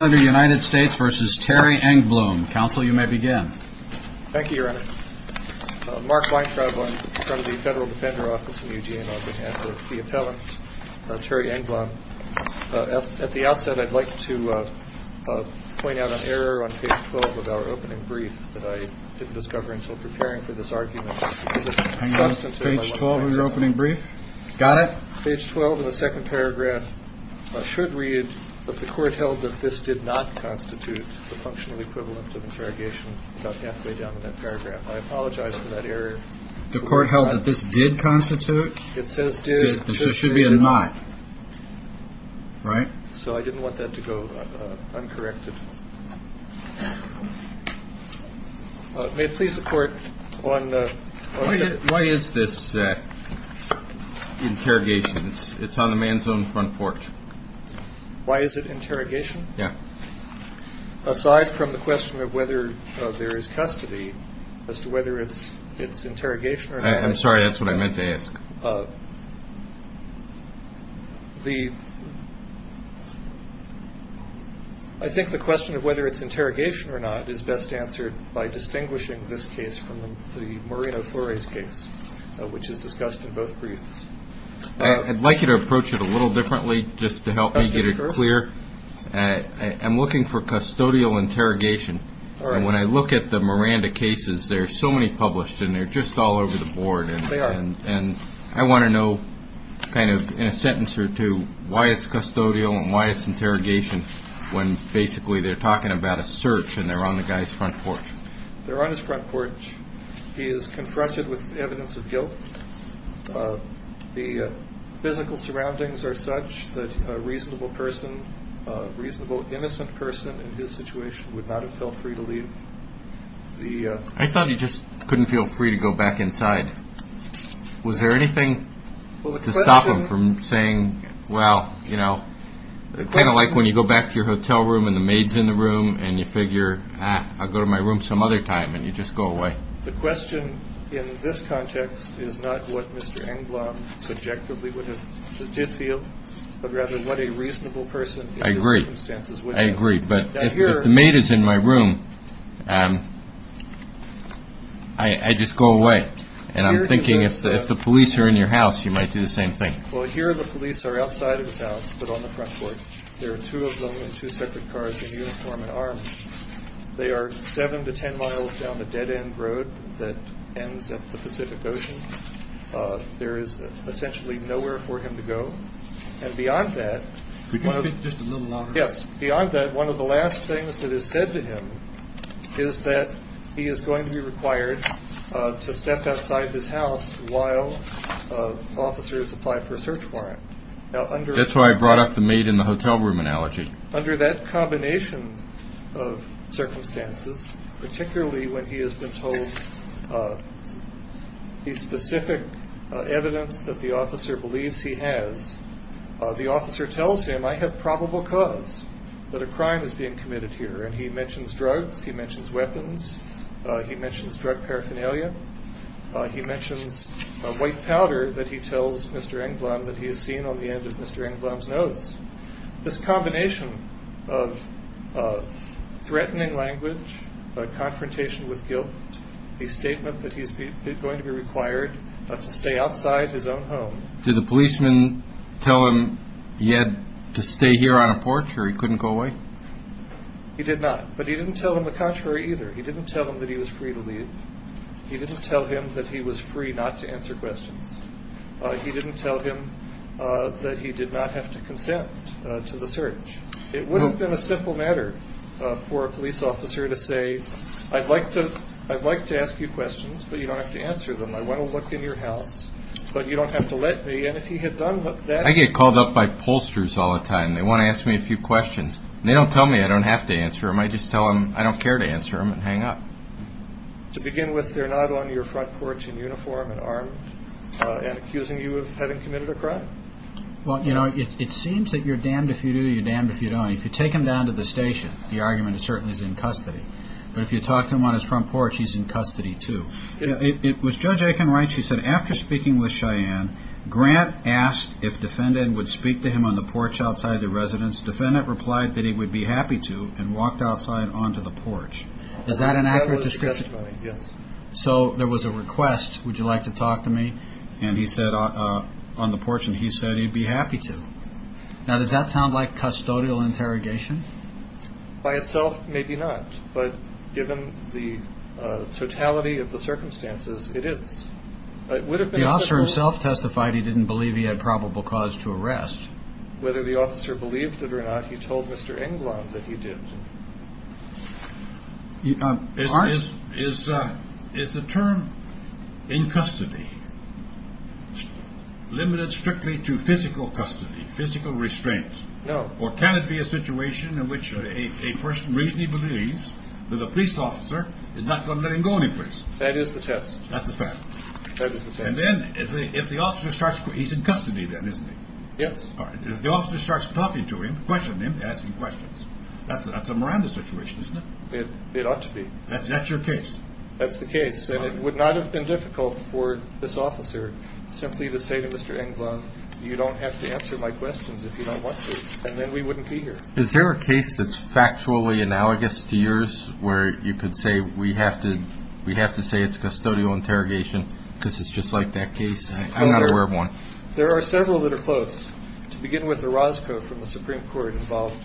Mark Weintraub from the Federal Defender Office in UGA on behalf of the appellant Terry Engblom. At the outset, I'd like to point out an error on page 12 of our opening brief that I didn't discover until preparing for this argument because it's substantive and I want to make sure it's clear. Page 12 of your opening brief? Got it. Page 12 of the second paragraph should read that the court held that this did not constitute the functional equivalent of interrogation about halfway down in that paragraph. I apologize for that error. The court held that this did constitute? It says did. There should be a not, right? So I didn't want that to go uncorrected. May it please the court on... Why is this interrogation? It's on the man's own front porch. Why is it interrogation? Yeah. Aside from the question of whether there is custody as to whether it's interrogation or not. I'm sorry, that's what I meant to ask. I think the question of whether it's interrogation or not is best answered by distinguishing this case from the Marina Flores case, which is discussed in both briefs. I'd like you to approach it a little differently just to help me get it clear. I'm looking for custodial interrogation. When I look at the Miranda cases, there are so many published and they're just all over the board. They are. And I want to know kind of in a sentence or two why it's custodial and why it's interrogation when basically they're talking about a search and they're on the guy's front porch. They're on his front porch. He is confronted with evidence of guilt. The physical surroundings are such that a reasonable person, a reasonable innocent person in his situation would not have felt free to leave. I thought he just couldn't feel free to go back inside. Was there anything to stop him from saying, well, you know, kind of like when you go back to your hotel room and the maids in the room and you figure I'll go to my room some other time and you just go away. The question in this context is not what Mr. Englund subjectively would have did feel, but rather what a reasonable person. I agree. I agree. But if the maid is in my room, I just go away. And I'm thinking if the police are in your house, you might do the same thing. Well, here the police are outside of his house, but on the front porch. There are two of them in two separate cars, a uniform and arms. They are seven to 10 miles down the dead end road that ends at the Pacific Ocean. There is essentially nowhere for him to go. And beyond that, just a little longer. Yes. Beyond that, one of the last things that is said to him is that he is going to be required to step outside his house while officers apply for a search warrant. That's why I brought up the maid in the hotel room analogy. Under that combination of circumstances, particularly when he has been told the specific evidence that the officer believes he has, the officer tells him I have probable cause that a crime is being committed here. And he mentions drugs. He mentions weapons. He mentions drug paraphernalia. He mentions white powder that he tells Mr. Englund that he has seen on the end of Mr. Englund's nose. This combination of threatening language, a confrontation with guilt, a statement that he's going to be required to stay outside his own home. Did the policeman tell him he had to stay here on a porch or he couldn't go away? He did not. But he didn't tell him the contrary either. He didn't tell him that he was free to leave. He didn't tell him that he was free not to answer questions. He didn't tell him that he did not have to consent to the search. It would have been a simple matter for a police officer to say I'd like to ask you questions, but you don't have to answer them. I want to look in your house, but you don't have to let me. And if he had done that... I get called up by pollsters all the time. They want to ask me a few questions. They don't tell me I don't have to answer them. I just tell them I don't care to answer them and hang up. To begin with, they're not on your front porch in uniform and armed and accusing you of having committed a crime? Well, you know, it seems that you're damned if you do or you're damned if you don't. If you take him down to the station, the argument is certainly he's in custody. But if you talk to him on his front porch, he's in custody too. Was Judge Aiken right? She said after speaking with Cheyenne, Grant asked if defendant would speak to him on the porch outside the residence. Defendant replied that he would be happy to and walked outside onto the porch. Is that an accurate description? Yes. So there was a request, would you like to talk to me? And he said on the porch and he said he'd be happy to. Now, does that sound like custodial interrogation? By itself, maybe not. But given the totality of the circumstances, it is. The officer himself testified he didn't believe he had probable cause to arrest. Whether the officer believed it or not, he told Mr. Englund that he did. Is the term in custody limited strictly to physical custody, physical restraint? No. Or can it be a situation in which a person reasonably believes that a police officer is not going to let him go anyplace? That is the test. That's the fact. And then if the officer starts, he's in custody then, isn't he? Yes. If the officer starts talking to him, questioning him, asking questions, that's a Miranda situation, isn't it? It ought to be. That's your case? That's the case. And it would not have been difficult for this officer simply to say to Mr. Englund, you don't have to answer my questions if you don't want to, and then we wouldn't be here. Is there a case that's factually analogous to yours where you could say we have to say it's custodial interrogation because it's just like that case? I'm not aware of one. There are several that are close. To begin with, Orozco from the Supreme Court involved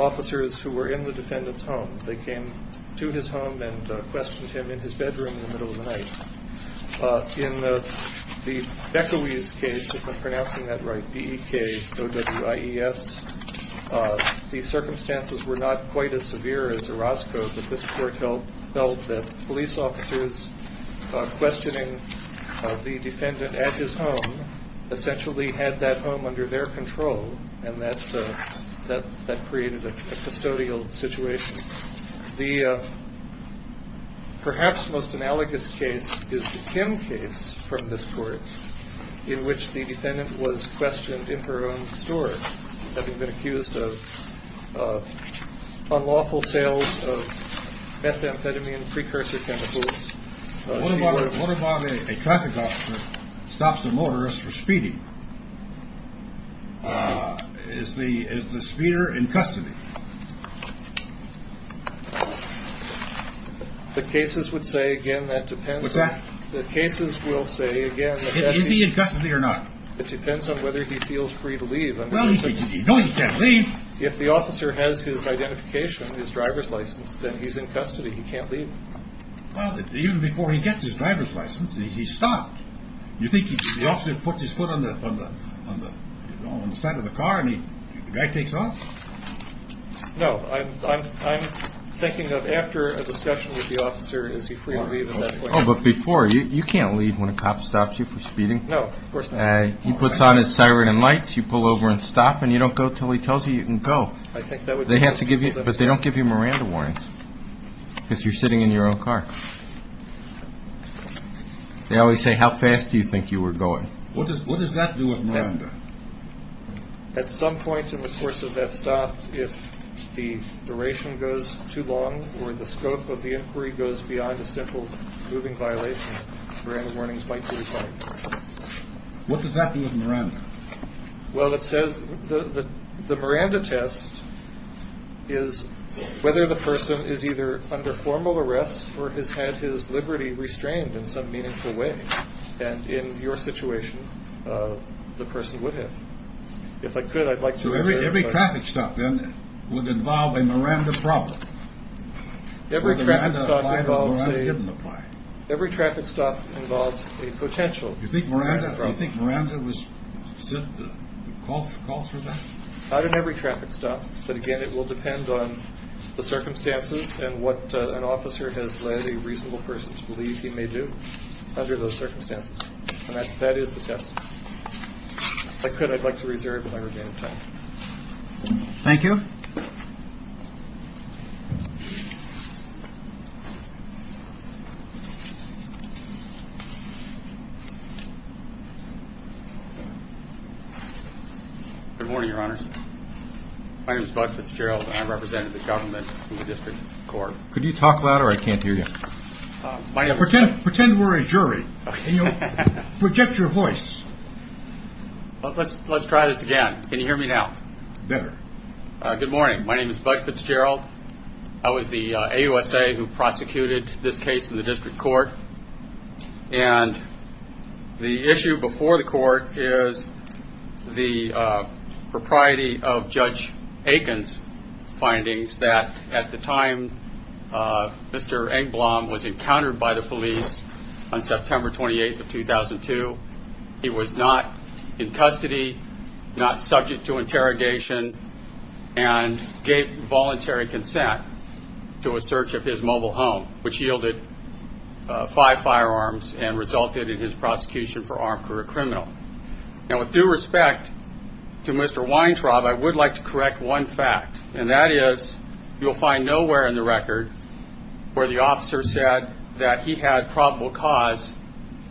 officers who were in the defendant's home. They came to his home and questioned him in his bedroom in the middle of the night. In the Bekowiz case, if I'm pronouncing that right, B-E-K-O-W-I-E-S, the circumstances were not quite as severe as Orozco, but this court felt that police officers questioning the defendant at his home essentially had that home under their control, and that created a custodial situation. The perhaps most analogous case is the Kim case from this court in which the defendant was questioned in her own store, having been accused of unlawful sales of methamphetamine precursor chemicals. A traffic officer stops a motorist for speeding. Is the speeder in custody? The cases would say, again, that depends. The cases will say, again, is he in custody or not? It depends on whether he feels free to leave. Well, he knows he can't leave. If the officer has his identification, his driver's license, then he's in custody. He can't leave. Even before he gets his driver's license, he's stopped. You think the officer puts his foot on the side of the car and the guy takes off? No. I'm thinking of after a discussion with the officer, is he free to leave? Oh, but before, you can't leave when a cop stops you for speeding. No, of course not. He puts on his siren and lights, you pull over and stop, and you don't go until he tells you you can go. They have to give you – but they don't give you Miranda warnings because you're sitting in your own car. They always say, how fast do you think you were going? What does that do with Miranda? At some point in the course of that stop, if the duration goes too long or the scope of the inquiry goes beyond a simple moving violation, Miranda warnings might be required. What does that do with Miranda? Well, it says the Miranda test is whether the person is either under formal arrest or has had his liberty restrained in some meaningful way. And in your situation, the person would have. If I could, I'd like to – Every traffic stop, then, would involve a Miranda problem. Every traffic stop involves a – Every traffic stop involves a potential Miranda problem. Do you think Miranda was – calls for that? Not in every traffic stop, but again, it will depend on the circumstances and what an officer has led a reasonable person to believe he may do under those circumstances. And that is the test. If I could, I'd like to reserve my remaining time. Thank you. Good morning, Your Honors. My name is Bud Fitzgerald, and I represent the government in the district court. Could you talk louder? I can't hear you. Pretend we're a jury. Project your voice. Let's try this again. Can you hear me now? Better. Good morning. My name is Bud Fitzgerald. I was the AUSA who prosecuted this case in the district court. that at the time Mr. Engblom was encountered by the police on September 28th of 2002, he was not in custody, not subject to interrogation, and gave voluntary consent to a search of his mobile home, which yielded five firearms and resulted in his prosecution for armed career criminal. Now, with due respect to Mr. Weintraub, I would like to correct one fact, and that is you'll find nowhere in the record where the officer said that he had probable cause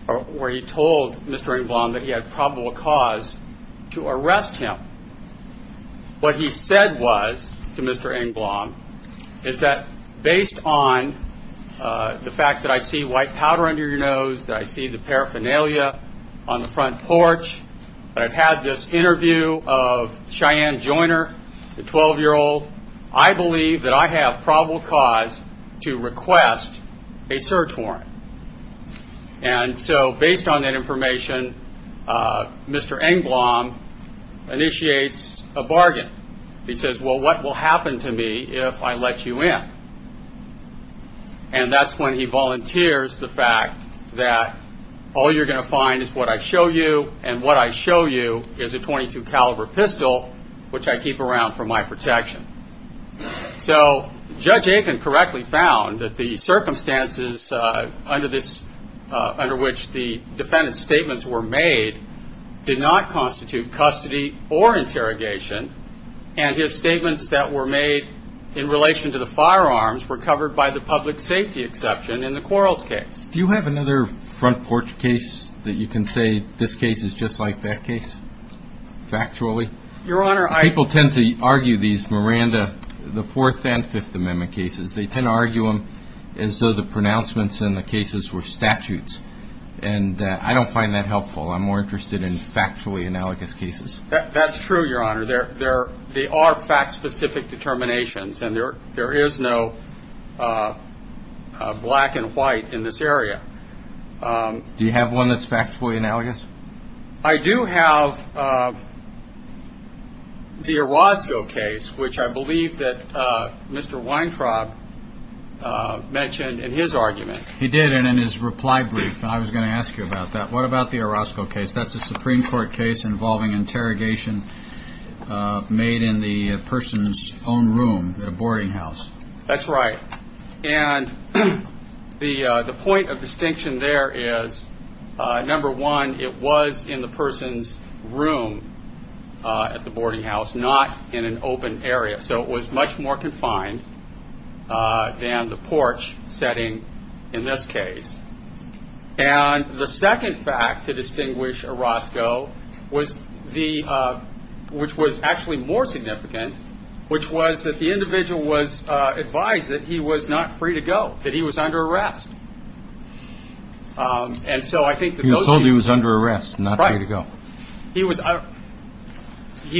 or where he told Mr. Engblom that he had probable cause to arrest him. What he said was to Mr. Engblom is that based on the fact that I see white powder under your nose, that I see the paraphernalia on the front porch, that I've had this interview of Cheyenne Joiner, the 12-year-old, I believe that I have probable cause to request a search warrant. And so based on that information, Mr. Engblom initiates a bargain. He says, well, what will happen to me if I let you in? And that's when he volunteers the fact that all you're going to find is what I show you, and what I show you is a .22 caliber pistol, which I keep around for my protection. So Judge Aiken correctly found that the circumstances under which the defendant's statements were made did not constitute custody or interrogation, and his statements that were made in relation to the firearms were covered by the public safety exception in the Quarles case. Do you have another front porch case that you can say this case is just like that case factually? Your Honor, I – People tend to argue these Miranda, the Fourth and Fifth Amendment cases. They tend to argue them as though the pronouncements in the cases were statutes, and I don't find that helpful. I'm more interested in factually analogous cases. That's true, Your Honor. There are fact-specific determinations, and there is no black and white in this area. Do you have one that's factually analogous? I do have the Orozco case, which I believe that Mr. Weintraub mentioned in his argument. He did, and in his reply brief, and I was going to ask you about that. What about the Orozco case? That's a Supreme Court case involving interrogation made in the person's own room at a boarding house. That's right, and the point of distinction there is, number one, it was in the person's room at the boarding house, not in an open area. So it was much more confined than the porch setting in this case. And the second fact to distinguish Orozco, which was actually more significant, which was that the individual was advised that he was not free to go, that he was under arrest. And so I think that those of you- He was told he was under arrest and not free to go. Right. He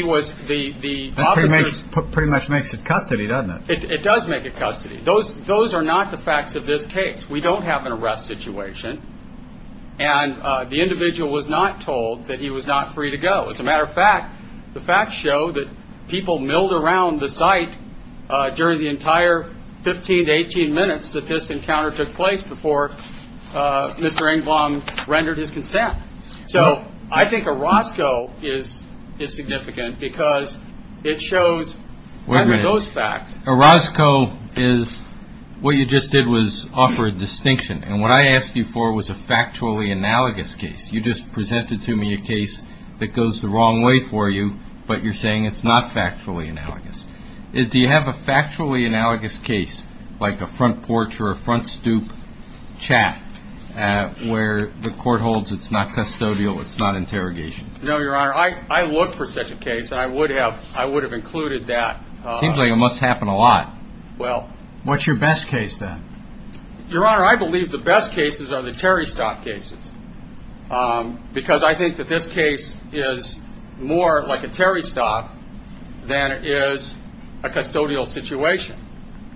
was the officer's- That pretty much makes it custody, doesn't it? It does make it custody. Those are not the facts of this case. We don't have an arrest situation, and the individual was not told that he was not free to go. As a matter of fact, the facts show that people milled around the site during the entire 15 to 18 minutes that this encounter took place before Mr. Engblom rendered his consent. So I think Orozco is significant because it shows, under those facts- Orozco is- What you just did was offer a distinction, and what I asked you for was a factually analogous case. You just presented to me a case that goes the wrong way for you, but you're saying it's not factually analogous. Do you have a factually analogous case, like a front porch or a front stoop chap, where the court holds it's not custodial, it's not interrogation? No, Your Honor. I look for such a case, and I would have included that. Seems like it must happen a lot. Well- What's your best case, then? Your Honor, I believe the best cases are the Terry Stock cases, because I think that this case is more like a Terry Stock than it is a custodial situation,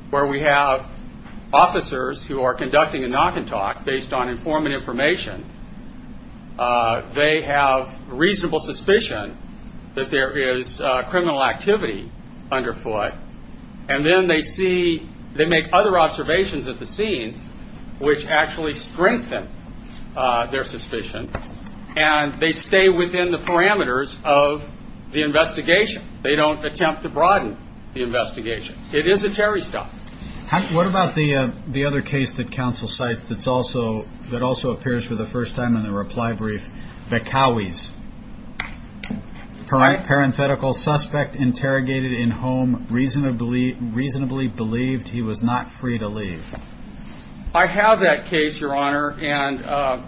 where we have officers who are conducting a knock and talk based on informant information. They have reasonable suspicion that there is criminal activity under foot, and then they make other observations at the scene which actually strengthen their suspicion, and they stay within the parameters of the investigation. They don't attempt to broaden the investigation. It is a Terry Stock. What about the other case that counsel cites that also appears for the first time in the reply brief, Bacowes? Parenthetical suspect interrogated in home, reasonably believed he was not free to leave. I have that case, Your Honor, and I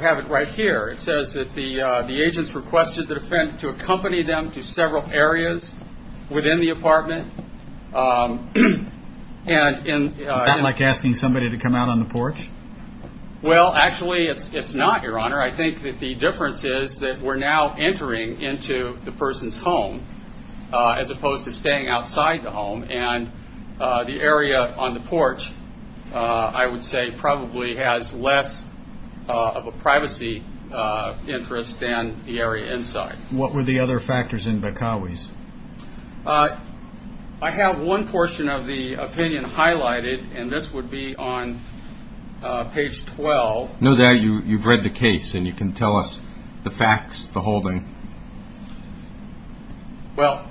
have it right here. It says that the agents requested the defendant to accompany them to several areas within the apartment. Is that like asking somebody to come out on the porch? Well, actually, it's not, Your Honor. I think that the difference is that we're now entering into the person's home as opposed to staying outside the home, and the area on the porch, I would say, probably has less of a privacy interest than the area inside. What were the other factors in Bacowes? I have one portion of the opinion highlighted, and this would be on page 12. Now that you've read the case and you can tell us the facts, the whole thing. Well,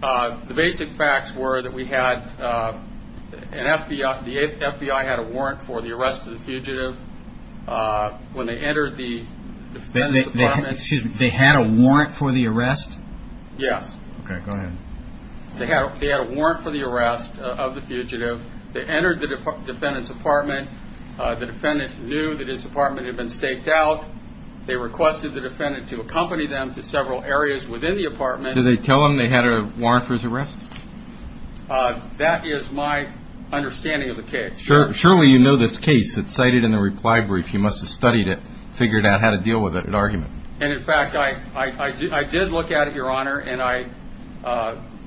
the basic facts were that the FBI had a warrant for the arrest of the fugitive when they entered the defendant's apartment. Excuse me, they had a warrant for the arrest? Yes. Okay, go ahead. They had a warrant for the arrest of the fugitive. They entered the defendant's apartment. The defendant knew that his apartment had been staked out. They requested the defendant to accompany them to several areas within the apartment. Did they tell him they had a warrant for his arrest? That is my understanding of the case. Surely you know this case. It's cited in the reply brief. You must have studied it, figured out how to deal with it at argument. And, in fact, I did look at it, Your Honor, and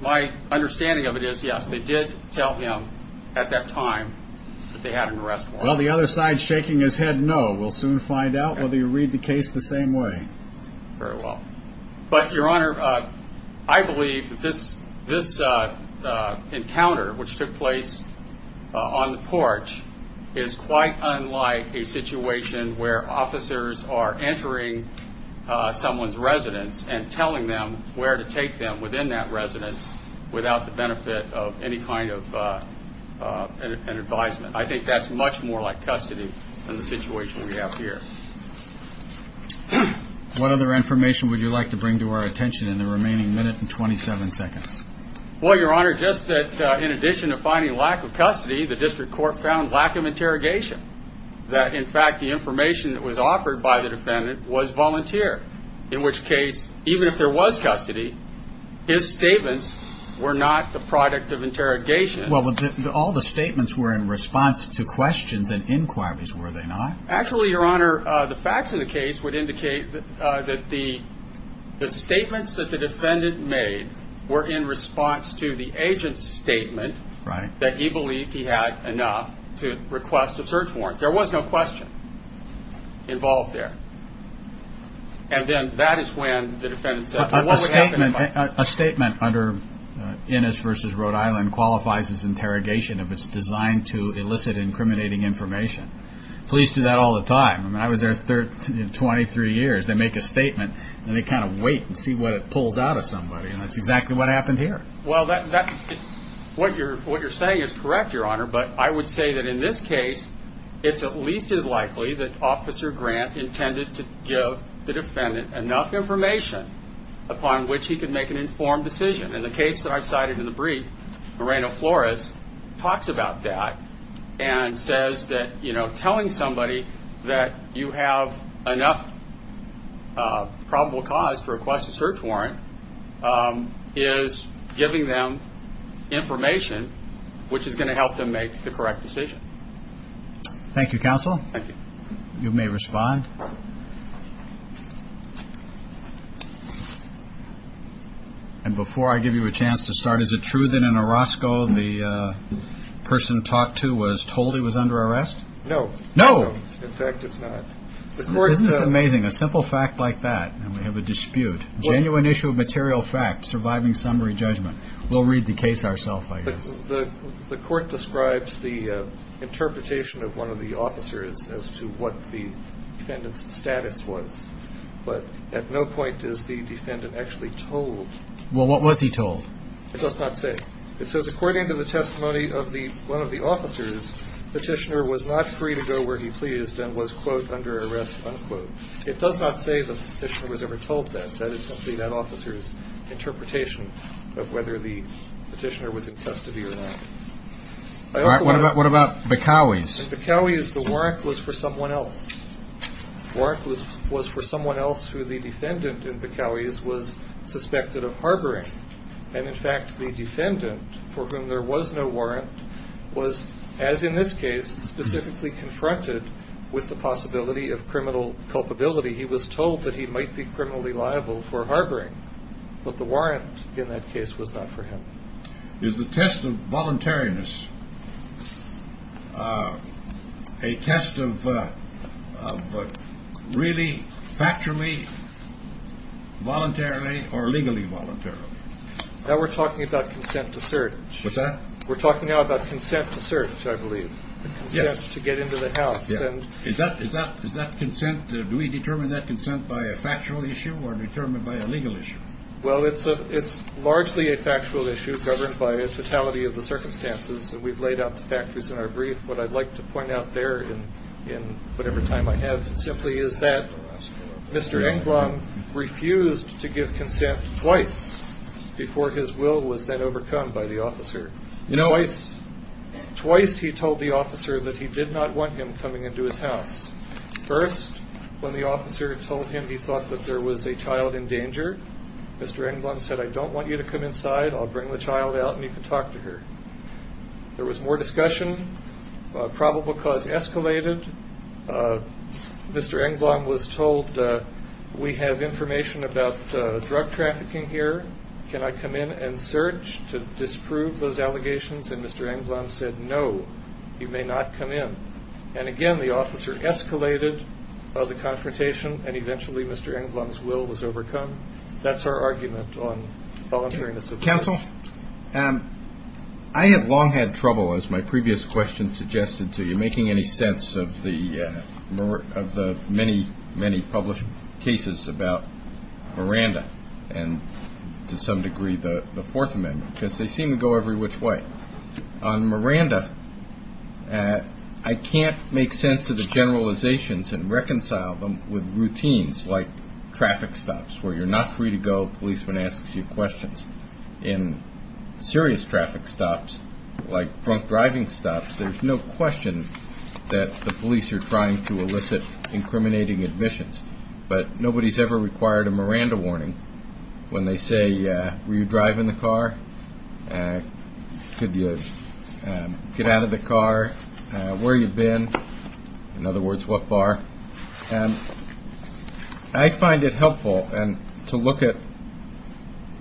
my understanding of it is, yes, they did tell him at that time that they had an arrest warrant. Well, the other side's shaking his head no. We'll soon find out whether you read the case the same way. Very well. But, Your Honor, I believe that this encounter, which took place on the porch, is quite unlike a situation where officers are entering someone's residence and telling them where to take them within that residence without the benefit of any kind of an advisement. I think that's much more like custody than the situation we have here. What other information would you like to bring to our attention in the remaining minute and 27 seconds? Well, Your Honor, just that, in addition to finding lack of custody, the district court found lack of interrogation, that, in fact, the information that was offered by the defendant was volunteer, in which case, even if there was custody, his statements were not the product of interrogation. Well, all the statements were in response to questions and inquiries, were they not? Actually, Your Honor, the facts of the case would indicate that the statements that the defendant made were in response to the agent's statement that he believed he had enough to request a search warrant. There was no question involved there. And then that is when the defendant said, well, what would happen if I... if it's designed to elicit incriminating information? Police do that all the time. I mean, I was there 23 years. They make a statement, and they kind of wait and see what it pulls out of somebody, and that's exactly what happened here. Well, what you're saying is correct, Your Honor, but I would say that in this case, it's at least as likely that Officer Grant intended to give the defendant enough information upon which he could make an informed decision. And the case that I cited in the brief, Moreno-Flores talks about that and says that telling somebody that you have enough probable cause to request a search warrant is giving them information which is going to help them make the correct decision. Thank you, counsel. Thank you. You may respond. And before I give you a chance to start, is it true that in Orozco the person talked to was told he was under arrest? No. No. In fact, it's not. Isn't this amazing? A simple fact like that, and we have a dispute. Genuine issue of material fact, surviving summary judgment. We'll read the case ourselves, I guess. The court describes the interpretation of one of the officers as to what the defendant's status was. But at no point is the defendant actually told. Well, what was he told? It does not say. It says according to the testimony of one of the officers, Petitioner was not free to go where he pleased and was, quote, under arrest, unquote. It does not say that Petitioner was ever told that. That is simply that officer's interpretation of whether the Petitioner was in custody or not. What about Bacowys? Bacowys, the warrant was for someone else. The warrant was for someone else who the defendant in Bacowys was suspected of harboring. And, in fact, the defendant, for whom there was no warrant, was, as in this case, specifically confronted with the possibility of criminal culpability. He was told that he might be criminally liable for harboring. But the warrant in that case was not for him. Is the test of voluntariness a test of really factually, voluntarily, or legally voluntarily? Now we're talking about consent to search. What's that? We're talking now about consent to search, I believe. Yes. Consent to get into the house. Is that consent? Do we determine that consent by a factual issue or determined by a legal issue? Well, it's largely a factual issue governed by a totality of the circumstances. And we've laid out the factors in our brief. What I'd like to point out there in whatever time I have simply is that Mr. Englund refused to give consent twice before his will was then overcome by the officer. Twice he told the officer that he did not want him coming into his house. First, when the officer told him he thought that there was a child in danger, Mr. Englund said, I don't want you to come inside. I'll bring the child out and you can talk to her. There was more discussion. The probable cause escalated. Mr. Englund was told, we have information about drug trafficking here. Can I come in and search to disprove those allegations? And Mr. Englund said, no, you may not come in. And, again, the officer escalated the confrontation, and eventually Mr. Englund's will was overcome. That's our argument on voluntariness. Counsel, I have long had trouble, as my previous question suggested to you, making any sense of the many, many published cases about Miranda and, to some degree, the Fourth Amendment, because they seem to go every which way. On Miranda, I can't make sense of the generalizations and reconcile them with routines like traffic stops, where you're not free to go, a policeman asks you questions. In serious traffic stops, like drunk driving stops, there's no question that the police are trying to elicit incriminating admissions. But nobody's ever required a Miranda warning when they say, were you driving the car? Could you get out of the car? Where have you been? In other words, what bar? I find it helpful to look at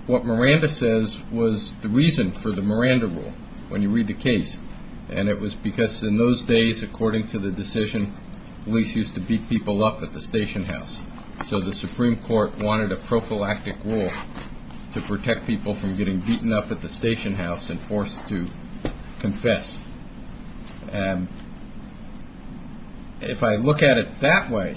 what Miranda says was the reason for the Miranda rule, when you read the case. And it was because in those days, according to the decision, police used to beat people up at the station house. So the Supreme Court wanted a prophylactic rule to protect people from getting beaten up at the station house and forced to confess. And if I look at it that way,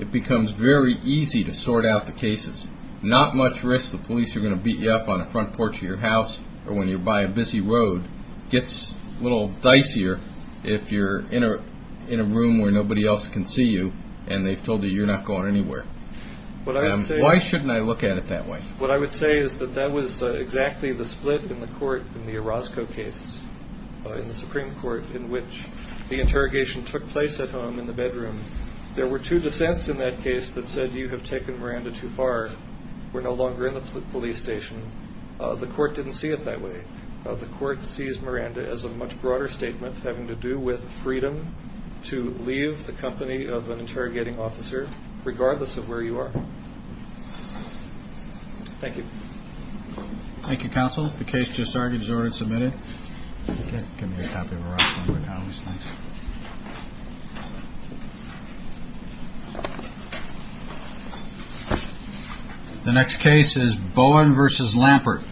it becomes very easy to sort out the cases. Not much risk the police are going to beat you up on the front porch of your house or when you're by a busy road. Gets a little dicier if you're in a room where nobody else can see you and they've told you you're not going anywhere. Why shouldn't I look at it that way? What I would say is that that was exactly the split in the court in the Orozco case, in the Supreme Court, in which the interrogation took place at home in the bedroom. There were two dissents in that case that said you have taken Miranda too far. We're no longer in the police station. The court didn't see it that way. The court sees Miranda as a much broader statement having to do with freedom to leave the company of an interrogating officer regardless of where you are. Thank you. Thank you, counsel. The case just started. Is the order submitted? Give me a copy of the record. Thanks. The next case is Bowen v. Lampert.